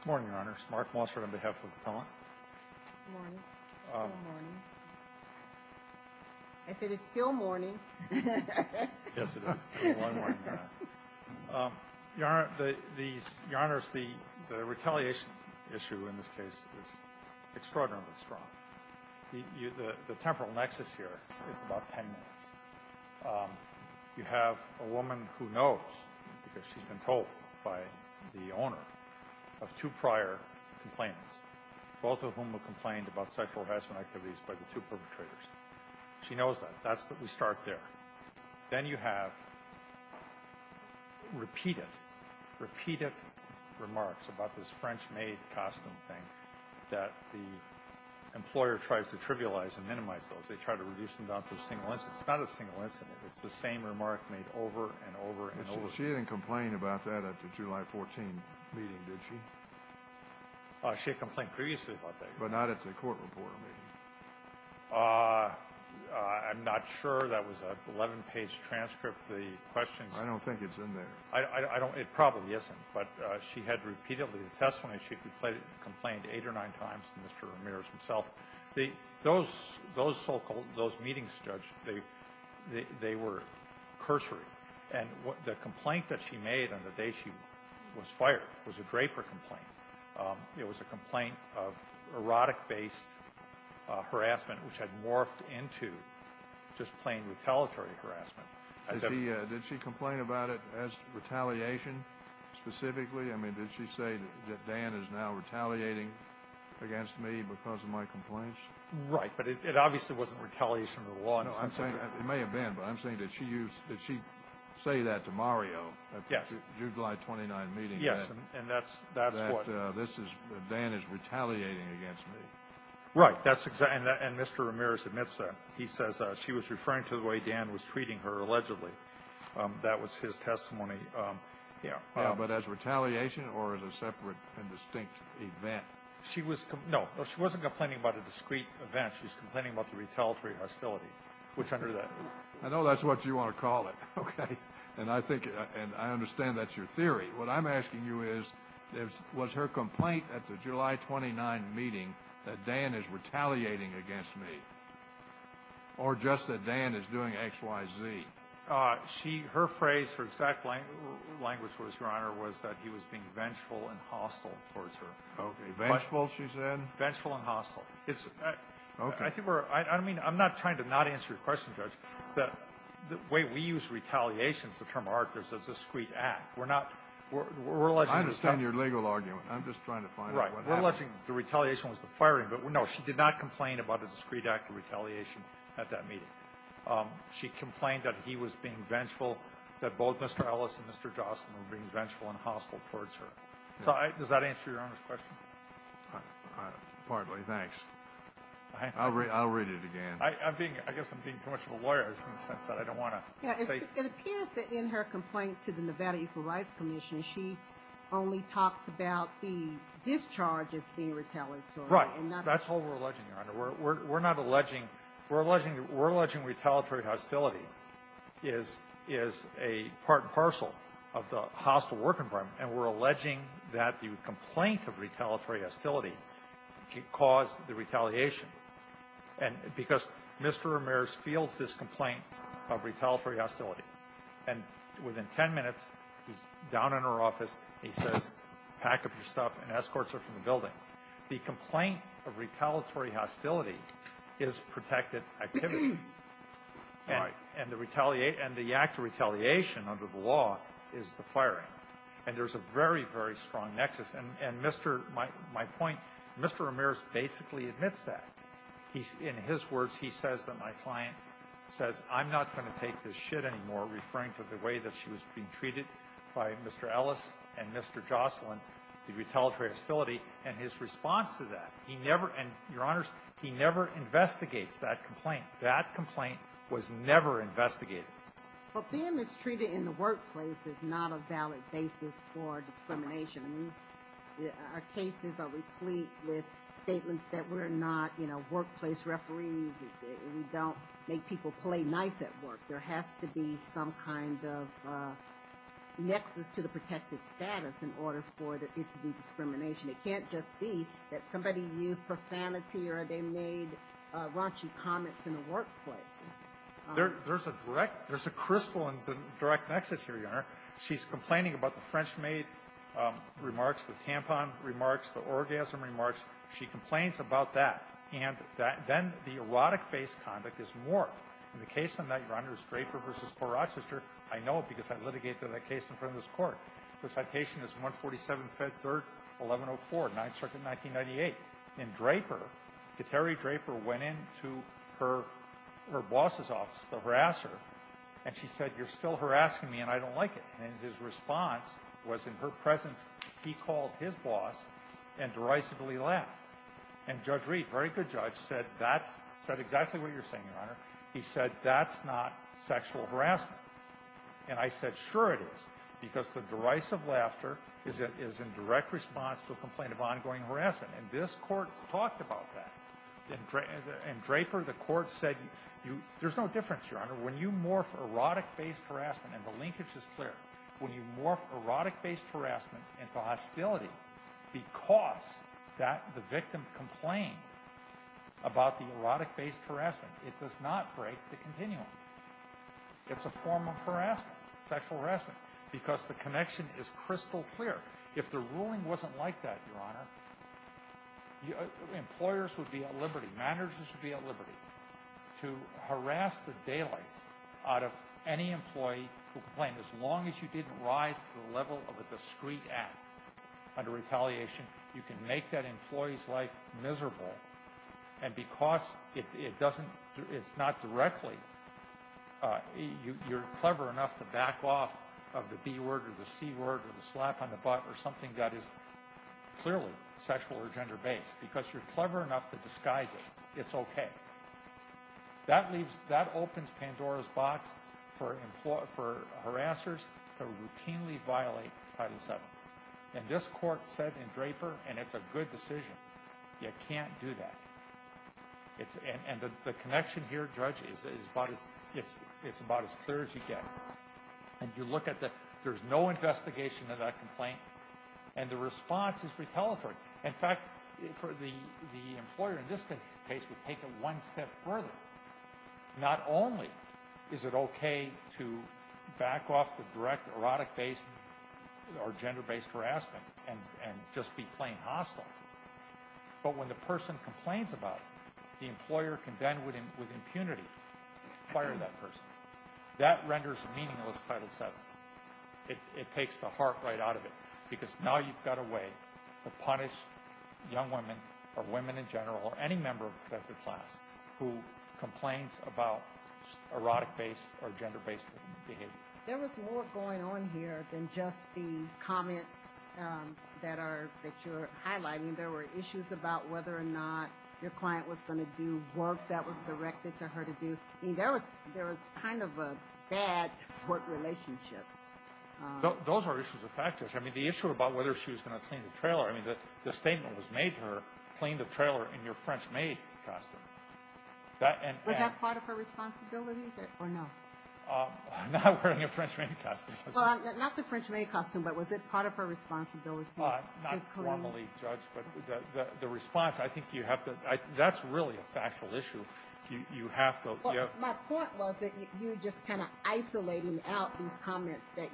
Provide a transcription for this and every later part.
Good morning, Your Honors. Mark Mosser on behalf of the Appellant. Good morning. It's still morning. I said it's still morning. Yes, it is. It's been one morning now. Your Honors, the retaliation issue in this case is extraordinarily strong. The temporal nexus here is about 10 minutes. You have a woman who knows, because she's been told by the owner, of two prior complainants, both of whom have complained about sexual harassment activities by the two perpetrators. She knows that. That's that we start there. Then you have repeated, repeated remarks about this French maid costume thing, that the employer tries to trivialize and minimize those. They try to reduce them down to a single incident. It's not a single incident. It's the same remark made over and over and over again. She didn't complain about that at the July 14 meeting, did she? She had complained previously about that. But not at the court report meeting? I'm not sure. That was an 11-page transcript of the questions. I don't think it's in there. It probably isn't. But she had repeatedly attested when she complained eight or nine times to Mr. Ramirez himself. Those so-called meetings, Judge, they were cursory. And the complaint that she made on the day she was fired was a Draper complaint. It was a complaint of erotic-based harassment, which had morphed into just plain retaliatory harassment. Did she complain about it as retaliation specifically? I mean, did she say that Dan is now retaliating against me because of my complaints? Right. But it obviously wasn't retaliation of the law. No. It may have been. But I'm saying, did she say that to Mario at the July 29 meeting? Yes. And that's what? That Dan is retaliating against me. Right. And Mr. Ramirez admits that. He says she was referring to the way Dan was treating her, allegedly. That was his testimony. But as retaliation or as a separate and distinct event? No. She wasn't complaining about a discreet event. She was complaining about the retaliatory hostility. I know that's what you want to call it. Okay. And I understand that's your theory. What I'm asking you is, was her complaint at the July 29 meeting that Dan is retaliating against me or just that Dan is doing X, Y, Z? Her phrase, her exact language, Your Honor, was that he was being vengeful and hostile towards her. Okay. Vengeful, she said? Vengeful and hostile. Okay. I think we're ‑‑ I mean, I'm not trying to not answer your question, Judge. The way we use retaliation, it's a term of art, there's a discreet act. We're not ‑‑ we're alleging ‑‑ I understand your legal argument. I'm just trying to find out what happened. Right. We're alleging the retaliation was the firing. But, no, she did not complain about a discreet act of retaliation at that meeting. She complained that he was being vengeful, that both Mr. Ellis and Mr. Jocelyn were being vengeful and hostile towards her. Does that answer Your Honor's question? Partly. Thanks. I'll read it again. I guess I'm being too much of a lawyer in the sense that I don't want to say ‑‑ It appears that in her complaint to the Nevada Equal Rights Commission, she only talks about the discharge as being retaliatory. Right. That's all we're alleging, Your Honor. We're not alleging ‑‑ we're alleging retaliatory hostility is a part and parcel of the hostile work environment, and we're alleging that the complaint of retaliatory hostility caused the retaliation. And because Mr. Ramirez fields this complaint of retaliatory hostility, and within ten minutes he's down in her office and he says, pack up your stuff and escorts her from the building. The complaint of retaliatory hostility is protected activity. Right. And the act of retaliation under the law is the firing. And there's a very, very strong nexus. And Mr. ‑‑ my point, Mr. Ramirez basically admits that. In his words, he says that my client says, I'm not going to take this shit anymore, referring to the way that she was being treated by Mr. Ellis and Mr. Jocelyn, the retaliatory hostility, and his response to that. He never ‑‑ and, Your Honors, he never investigates that complaint. That complaint was never investigated. Well, being mistreated in the workplace is not a valid basis for discrimination. I mean, our cases are replete with statements that we're not, you know, workplace referees. We don't make people play nice at work. There has to be some kind of nexus to the protected status in order for it to be discrimination. It can't just be that somebody used profanity or they made raunchy comments in the workplace. There's a direct ‑‑ there's a crystal in the direct nexus here, Your Honor. She's complaining about the French maid remarks, the tampon remarks, the orgasm remarks. She complains about that. And then the erotic-based conduct is more. And the case on that, Your Honor, is Draper v. Port Rochester. I know it because I litigated that case in front of this Court. The citation is 147, Fed 3rd, 1104, 9th Circuit, 1998. And Draper, Kateri Draper, went into her boss's office to harass her, and she said, You're still harassing me, and I don't like it. And his response was, in her presence, he called his boss and derisively laughed. And Judge Reed, very good judge, said that's ‑‑ said exactly what you're saying, Your Honor. He said, That's not sexual harassment. And I said, Sure it is. Because the derisive laughter is in direct response to a complaint of ongoing harassment. And this Court talked about that. And Draper, the Court said, There's no difference, Your Honor. When you morph erotic-based harassment, and the linkage is clear, when you morph erotic-based harassment into hostility because the victim complained about the erotic-based harassment, it does not break the continuum. It's a form of harassment, sexual harassment, because the connection is crystal clear. If the ruling wasn't like that, Your Honor, employers would be at liberty, managers would be at liberty to harass the daylights out of any employee who complained. As long as you didn't rise to the level of a discreet act under retaliation, you can make that employee's life miserable. And because it's not directly, you're clever enough to back off of the B word or the C word or the slap on the butt or something that is clearly sexual or gender-based because you're clever enough to disguise it. It's okay. That opens Pandora's box for harassers to routinely violate Title VII. And this Court said in Draper, and it's a good decision, you can't do that. And the connection here, Judge, is about as clear as you get. And you look at the, there's no investigation of that complaint, and the response is retaliatory. In fact, the employer in this case would take it one step further. Not only is it okay to back off the direct erotic-based or gender-based harassment and just be plain hostile, but when the person complains about it, the employer can then, with impunity, fire that person. That renders meaningless Title VII. It takes the heart right out of it because now you've got a way to punish young women or women in general or any member of the protected class who complains about erotic-based or gender-based behavior. There was more going on here than just the comments that you're highlighting. There were issues about whether or not your client was going to do work that was directed to her to do. I mean, there was kind of a bad court relationship. Those are issues of practice. I mean, the issue about whether she was going to clean the trailer, I mean, the statement was made to her, clean the trailer in your French maid costume. Was that part of her responsibilities or no? I'm not wearing a French maid costume. Not the French maid costume, but was it part of her responsibility to clean? Not formally judged, but the response, I think you have to – that's really a factual issue. You have to – My point was that you just kind of isolated out these comments that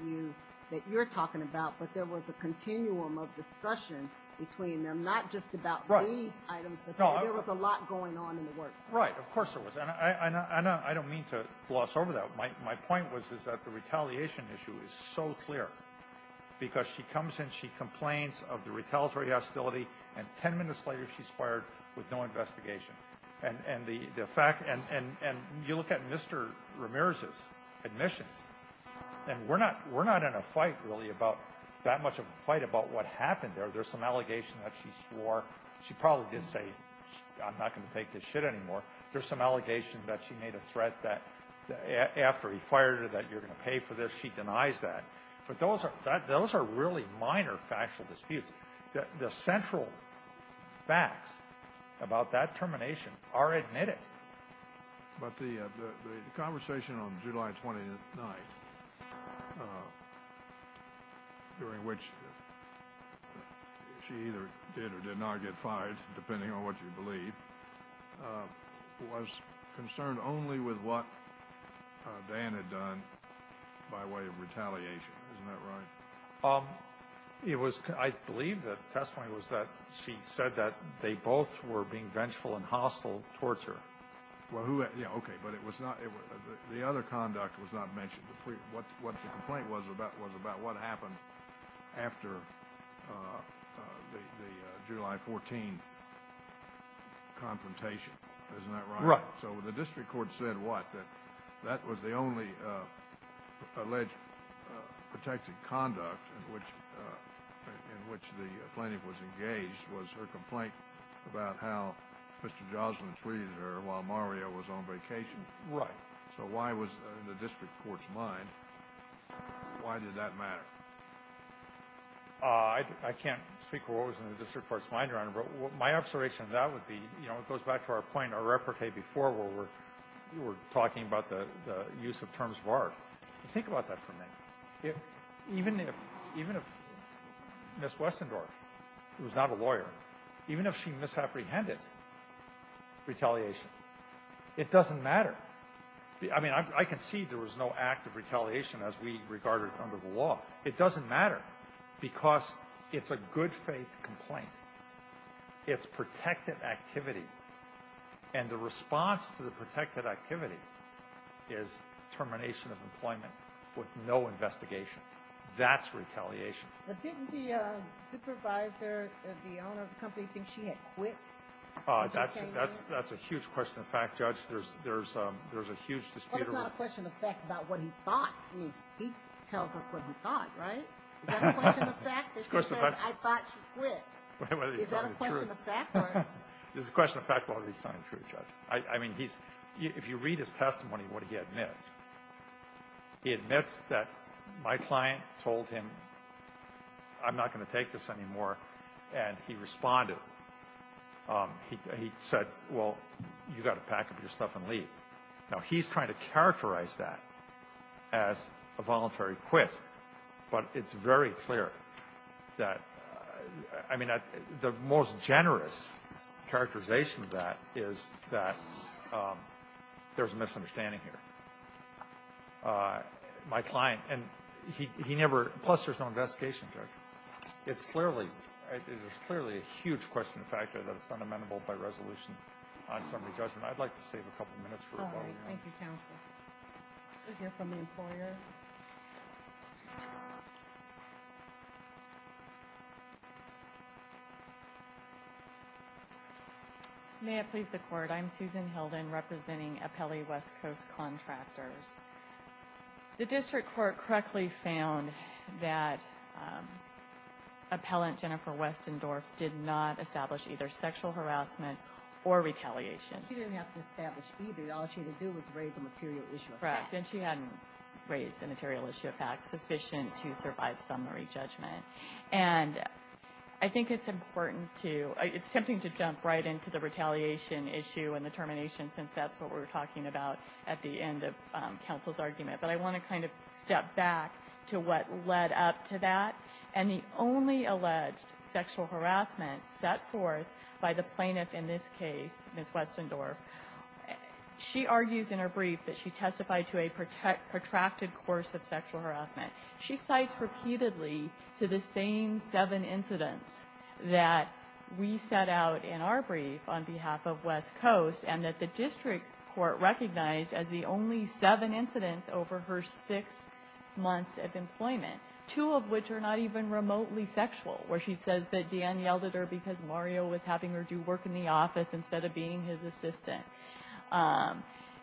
you're talking about, but there was a continuum of discussion between them, not just about these items, but there was a lot going on in the workplace. Right, of course there was, and I don't mean to gloss over that. My point was that the retaliation issue is so clear because she comes in, she complains of the retaliatory hostility, and 10 minutes later she's fired with no investigation. And you look at Mr. Ramirez's admissions, and we're not in a fight really about that much of a fight about what happened there. There's some allegation that she swore. She probably did say, I'm not going to take this shit anymore. There's some allegation that she made a threat that after he fired her that you're going to pay for this. She denies that. But those are really minor factual disputes. The central facts about that termination are admitted. But the conversation on July 29th, during which she either did or did not get fired, depending on what you believe, was concerned only with what Dan had done by way of retaliation. Isn't that right? I believe the testimony was that she said that they both were being vengeful and hostile towards her. Okay, but the other conduct was not mentioned. What the complaint was about was about what happened after the July 14th confrontation. Isn't that right? Right. So the district court said what, that that was the only alleged protected conduct in which the plaintiff was engaged, was her complaint about how Mr. Joslin treated her while Mario was on vacation? Right. So why was it in the district court's mind? Why did that matter? I can't speak for what was in the district court's mind, Your Honor, but my observation of that would be, you know, it goes back to our point, our repartee before, where we were talking about the use of terms of art. Think about that for a minute. Even if Ms. Westendorf was not a lawyer, even if she misapprehended retaliation, it doesn't matter. I mean, I can see there was no act of retaliation as we regard it under the law. It doesn't matter because it's a good faith complaint. It's protected activity. And the response to the protected activity is termination of employment with no investigation. That's retaliation. But didn't the supervisor, the owner of the company, think she had quit? That's a huge question of fact, Judge. There's a huge dispute around it. Well, it's not a question of fact about what he thought. I mean, he tells us what he thought, right? Is that a question of fact that he says, I thought she quit? Is that a question of fact? It's a question of fact whether he's telling the truth, Judge. I mean, if you read his testimony, what he admits, he admits that my client told him, I'm not going to take this anymore, and he responded. Now, he's trying to characterize that as a voluntary quit, but it's very clear that, I mean, the most generous characterization of that is that there's a misunderstanding here. My client, and he never – plus there's no investigation, Judge. It's clearly – it is clearly a huge question of fact that it's unamendable by resolution on summary judgment. I'd like to save a couple minutes for a while. All right. Thank you, Counsel. We'll hear from the employer. May it please the Court. I'm Susan Hilden, representing Apelli West Coast Contractors. The district court correctly found that appellant Jennifer Westendorf did not establish either sexual harassment or retaliation. She didn't have to establish either. All she had to do was raise a material issue of fact. Correct. And she hadn't raised a material issue of fact sufficient to survive summary judgment. And I think it's important to – it's tempting to jump right into the retaliation issue and the termination, since that's what we're talking about at the end of counsel's argument. But I want to kind of step back to what led up to that. And the only alleged sexual harassment set forth by the plaintiff in this case, Ms. Westendorf, she argues in her brief that she testified to a protracted course of sexual harassment. She cites repeatedly to the same seven incidents that we set out in our brief on behalf of West Coast and that the district court recognized as the only seven incidents over her six months of employment. Two of which are not even remotely sexual, where she says that Dan yelled at her because Mario was having her do work in the office instead of being his assistant.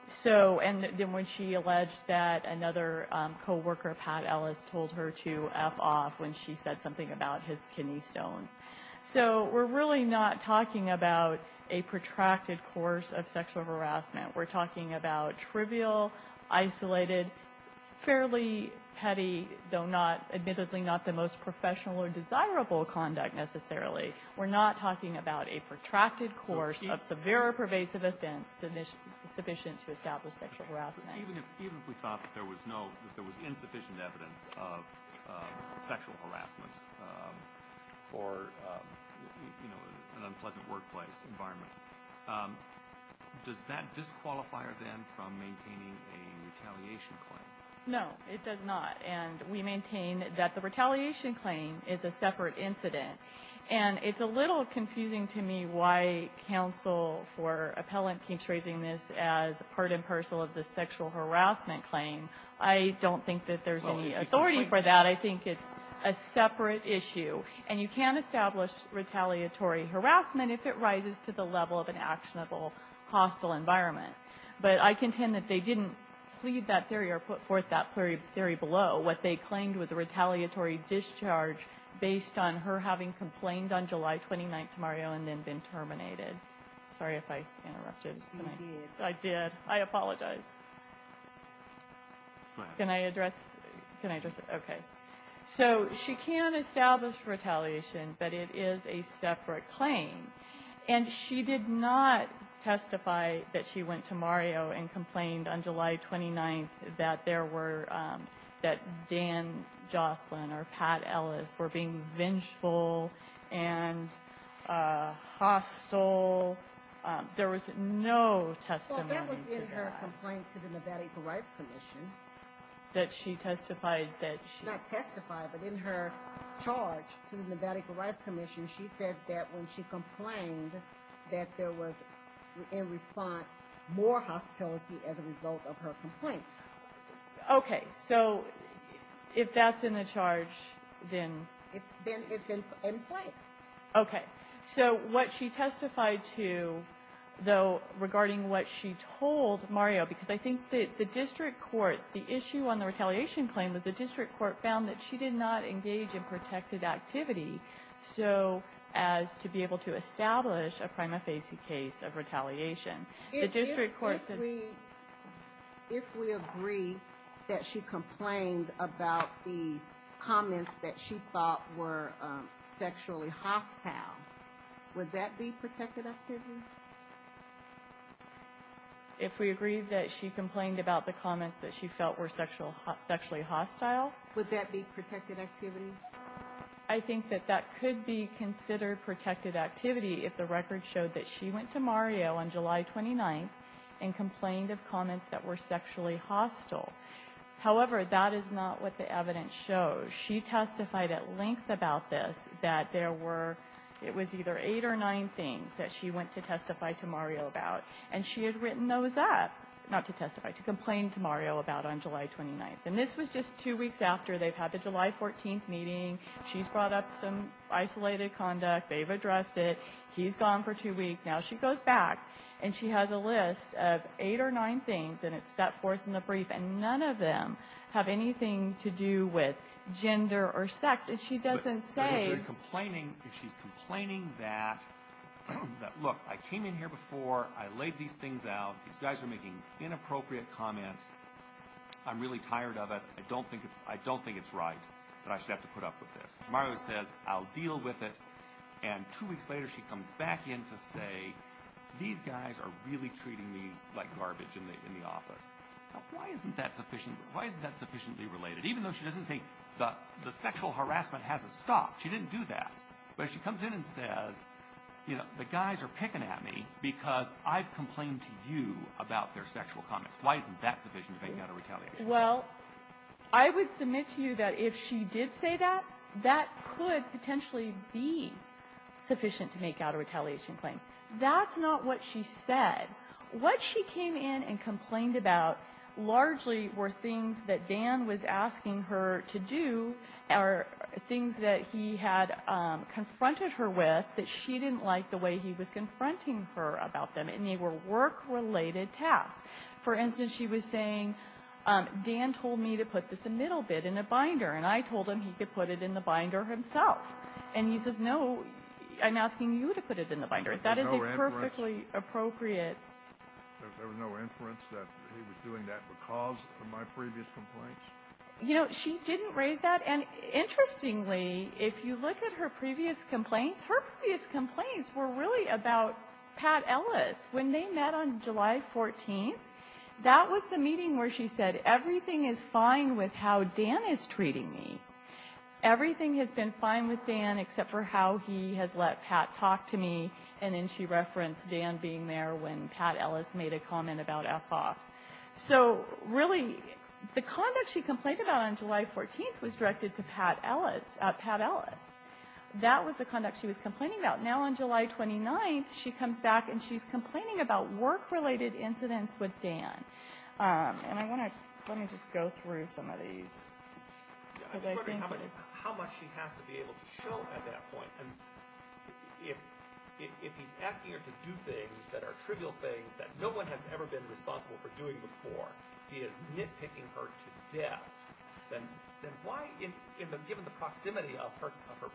So – and then when she alleged that another co-worker, Pat Ellis, told her to F off when she said something about his kidney stones. So we're really not talking about a protracted course of sexual harassment. We're talking about trivial, isolated, fairly petty, though not – admittedly, not the most professional or desirable conduct necessarily. We're not talking about a protracted course of severe or pervasive offense sufficient to establish sexual harassment. Even if we thought that there was no – that there was insufficient evidence of sexual harassment for, you know, an unpleasant workplace environment, does that disqualify her then from maintaining a retaliation claim? No, it does not. And we maintain that the retaliation claim is a separate incident. And it's a little confusing to me why counsel for appellant keeps raising this as part and parcel of the sexual harassment claim. I don't think that there's any authority for that. I think it's a separate issue. And you can establish retaliatory harassment if it rises to the level of an But I contend that they didn't plead that theory or put forth that theory below. What they claimed was a retaliatory discharge based on her having complained on July 29th to Mario and then been terminated. Sorry if I interrupted. You did. I did. I apologize. Can I address – can I address it? Okay. So she can establish retaliation, but it is a separate claim. And she did not testify that she went to Mario and complained on July 29th that there were – that Dan Jocelyn or Pat Ellis were being vengeful and hostile. There was no testimony to that. Well, that was in her complaint to the Nevada Equal Rights Commission. That she testified that she – Not testified, but in her charge to the Nevada Equal Rights Commission, she said that when she complained that there was, in response, more hostility as a result of her complaint. Okay. So if that's in the charge, then – Then it's in play. Okay. So what she testified to, though, regarding what she told Mario, because I think that the district court – the issue on the retaliation claim was the district court found that she did not engage in protected activity. So as to be able to establish a prima facie case of retaliation, the district court said – If we agree that she complained about the comments that she thought were sexually hostile, would that be protected activity? If we agreed that she complained about the comments that she felt were sexually hostile? Would that be protected activity? I think that that could be considered protected activity if the record showed that she went to Mario on July 29th and complained of comments that were sexually hostile. However, that is not what the evidence shows. She testified at length about this, that there were – it was either eight or nine things that she went to testify to Mario about. And she had written those up – not to testify, to complain to Mario about on July 29th. And this was just two weeks after. They've had the July 14th meeting. She's brought up some isolated conduct. They've addressed it. He's gone for two weeks. Now she goes back, and she has a list of eight or nine things, and it's set forth in the brief, and none of them have anything to do with gender or sex. And she doesn't say – If she's complaining that, look, I came in here before. I laid these things out. These guys are making inappropriate comments. I'm really tired of it. I don't think it's right that I should have to put up with this. Mario says, I'll deal with it. And two weeks later, she comes back in to say, these guys are really treating me like garbage in the office. Now, why isn't that sufficiently related? Even though she doesn't say the sexual harassment hasn't stopped. She didn't do that. But she comes in and says, you know, the guys are picking at me because I've complained to you about their sexual comments. Why isn't that sufficient to make out a retaliation? Well, I would submit to you that if she did say that, that could potentially be sufficient to make out a retaliation claim. That's not what she said. What she came in and complained about largely were things that Dan was asking her to do or things that he had confronted her with that she didn't like the way he was confronting her about them, and they were work-related tasks. For instance, she was saying, Dan told me to put this middle bit in a binder, and I told him he could put it in the binder himself. And he says, no, I'm asking you to put it in the binder. That is a perfectly appropriate. There was no inference that he was doing that because of my previous complaints? You know, she didn't raise that. And interestingly, if you look at her previous complaints, her previous complaints were really about Pat Ellis. When they met on July 14th, that was the meeting where she said, everything is fine with how Dan is treating me. Everything has been fine with Dan except for how he has let Pat talk to me, and then she referenced Dan being there when Pat Ellis made a comment about F off. So, really, the conduct she complained about on July 14th was directed to Pat Ellis. That was the conduct she was complaining about. Now, on July 29th, she comes back, and she's complaining about work-related incidents with Dan. And I want to just go through some of these. I was wondering how much she has to be able to show at that point. If he's asking her to do things that are trivial things that no one has ever been responsible for doing before, he is nitpicking her to death. Then why, given the proximity of her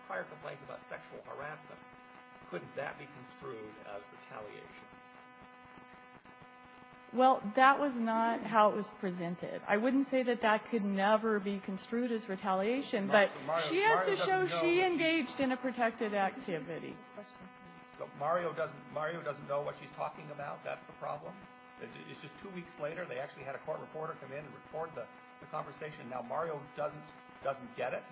prior complaints about sexual harassment, couldn't that be construed as retaliation? Well, that was not how it was presented. I wouldn't say that that could never be construed as retaliation, but she has to show she engaged in a protected activity. Mario doesn't know what she's talking about. That's the problem. It's just two weeks later. They actually had a court reporter come in and record the conversation. Now, Mario doesn't get it.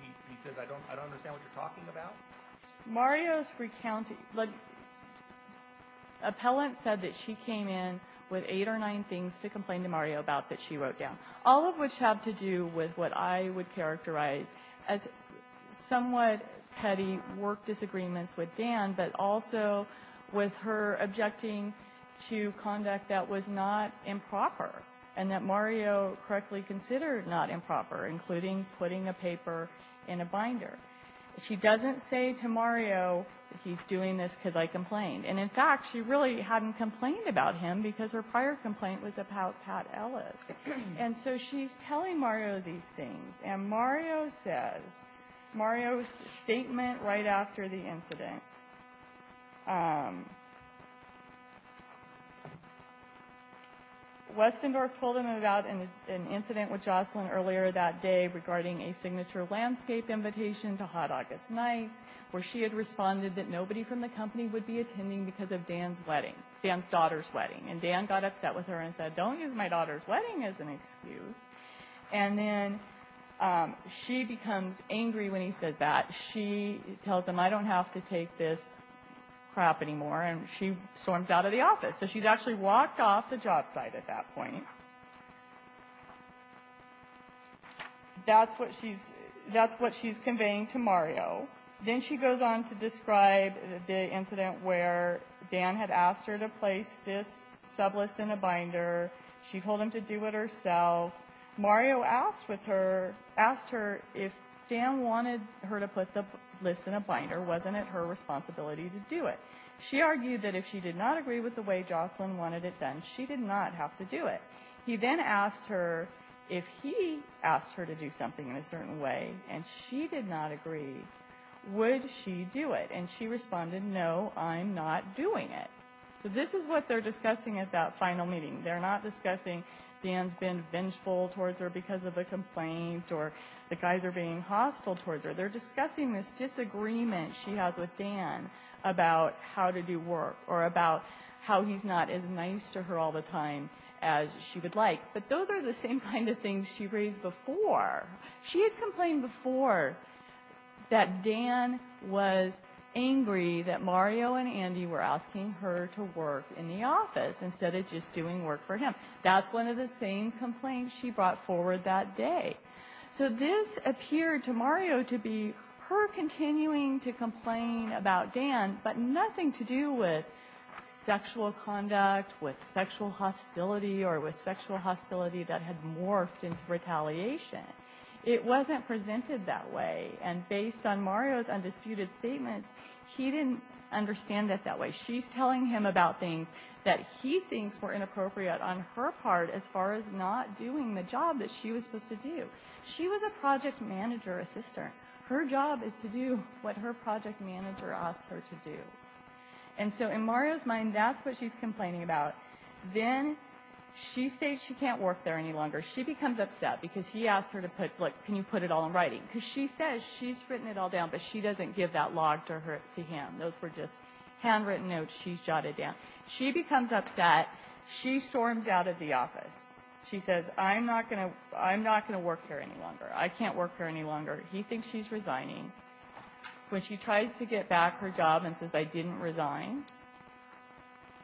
He says, I don't understand what you're talking about. Mario's recounting. Look, appellant said that she came in with eight or nine things to complain to Mario about that she wrote down, all of which have to do with what I would characterize as somewhat petty work disagreements with Dan, but also with her objecting to conduct that was not improper and that Mario correctly considered not improper, including putting a paper in a binder. She doesn't say to Mario, he's doing this because I complained. And, in fact, she really hadn't complained about him because her prior complaint was about Pat Ellis. And so she's telling Mario these things. And Mario says, Mario's statement right after the incident, Westendorf told him about an incident with Jocelyn earlier that day regarding a signature landscape invitation to Hot August Nights where she had responded that nobody from the company would be attending because of Dan's daughter's wedding. And Dan got upset with her and said, don't use my daughter's wedding as an excuse. And then she becomes angry when he says that. She tells him, I don't have to take this crap anymore. And she storms out of the office. So she's actually walked off the job site at that point. That's what she's conveying to Mario. Then she goes on to describe the incident where Dan had asked her to place this sublist in a binder. She told him to do it herself. Mario asked her if Dan wanted her to put the list in a binder, wasn't it her responsibility to do it? She argued that if she did not agree with the way Jocelyn wanted it done, she did not have to do it. He then asked her if he asked her to do something in a certain way and she did not agree, would she do it? And she responded, no, I'm not doing it. So this is what they're discussing at that final meeting. They're not discussing Dan's been vengeful towards her because of a complaint or the guys are being hostile towards her. They're discussing this disagreement she has with Dan about how to do work or about how he's not as nice to her all the time as she would like. But those are the same kind of things she raised before. She had complained before that Dan was angry that Mario and Andy were asking her to work in the office instead of just doing work for him. That's one of the same complaints she brought forward that day. So this appeared to Mario to be her continuing to complain about Dan, but nothing to do with sexual conduct, with sexual hostility or with sexual hostility that had morphed into retaliation. It wasn't presented that way. And based on Mario's undisputed statements, he didn't understand it that way. She's telling him about things that he thinks were inappropriate on her part as far as not doing the job that she was supposed to do. She was a project manager assistant. Her job is to do what her project manager asked her to do. And so in Mario's mind, that's what she's complaining about. Then she says she can't work there any longer. She becomes upset because he asked her to put, look, can you put it all in writing? Because she says she's written it all down, but she doesn't give that log to him. Those were just handwritten notes she's jotted down. She becomes upset. She storms out of the office. She says, I'm not going to work here any longer. I can't work here any longer. He thinks she's resigning. When she tries to get back her job and says, I didn't resign,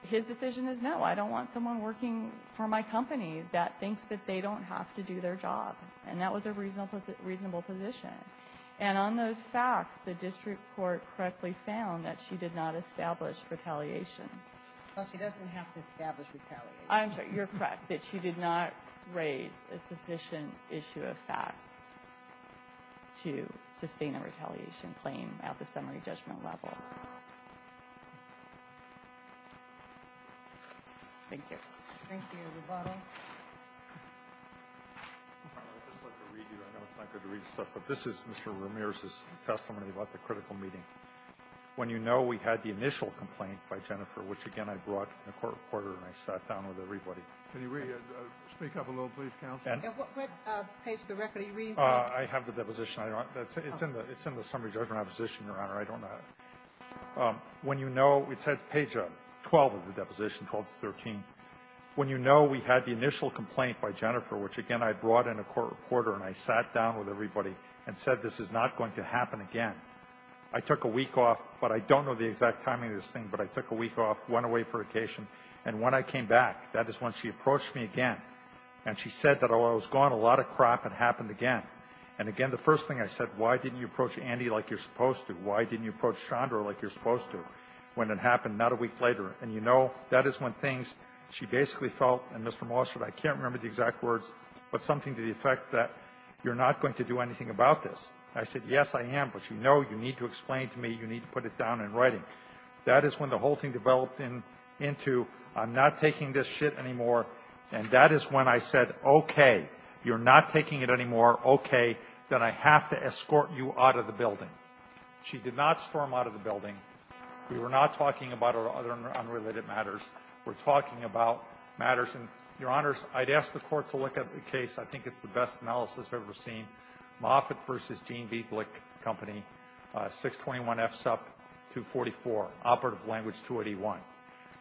his decision is, no, I don't want someone working for my company that thinks that they don't have to do their job. And that was a reasonable position. And on those facts, the district court correctly found that she did not establish retaliation. Well, she doesn't have to establish retaliation. I'm sorry. You're correct that she did not raise a sufficient issue of fact to sustain a retaliation claim at the summary judgment level. Thank you. Thank you. Rebuttal. I'd just like to read you. I know it's not good to read stuff, but this is Mr. Ramirez's testimony about the critical meeting. When you know we had the initial complaint by Jennifer, which, again, I brought in a court reporter and I sat down with everybody. Can you speak up a little, please, counsel? And what page of the record are you reading from? I have the deposition. It's in the summary judgment opposition, Your Honor. I don't know. When you know we said page 12 of the deposition, 12 to 13, when you know we had the initial complaint by Jennifer, which, again, I brought in a court reporter and I sat down with I don't know the exact timing of this thing, but I took a week off, went away for vacation. And when I came back, that is when she approached me again. And she said that while I was gone, a lot of crap had happened again. And, again, the first thing I said, why didn't you approach Andy like you're supposed to? Why didn't you approach Chandra like you're supposed to when it happened not a week later? And you know, that is when things she basically felt, and, Mr. Molstad, I can't remember the exact words, but something to the effect that you're not going to do anything about this. And I said, yes, I am. But you know you need to explain to me. You need to put it down in writing. That is when the whole thing developed into I'm not taking this shit anymore. And that is when I said, okay, you're not taking it anymore. Okay. Then I have to escort you out of the building. She did not storm out of the building. We were not talking about other unrelated matters. We're talking about matters. And, Your Honors, I'd ask the Court to look at the case. I think it's the best analysis I've ever seen. Moffitt v. Gene B. Glick Company, 621-F-SUP-244, Operative Language 281.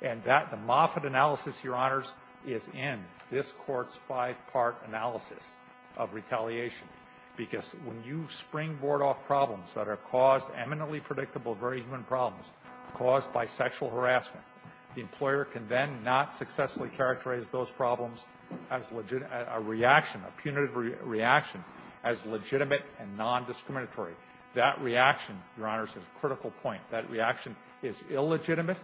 And the Moffitt analysis, Your Honors, is in this Court's five-part analysis of retaliation. Because when you springboard off problems that are caused, eminently predictable, very human problems, caused by sexual harassment, the employer can then not successfully characterize those problems as a reaction, a punitive reaction, as legitimate and non-discriminatory. That reaction, Your Honors, is a critical point. That reaction is illegitimate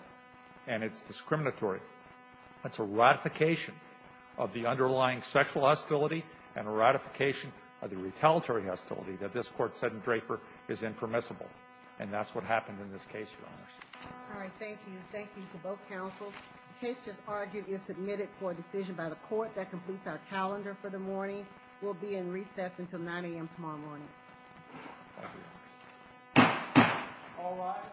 and it's discriminatory. It's a ratification of the underlying sexual hostility and a ratification of the retaliatory hostility that this Court said in Draper is impermissible. And that's what happened in this case, Your Honors. All right. Thank you. Thank you to both counsels. The case just argued is submitted for a decision by the Court that completes our calendar for the morning. We'll be in recess until 9 a.m. tomorrow morning. All rise.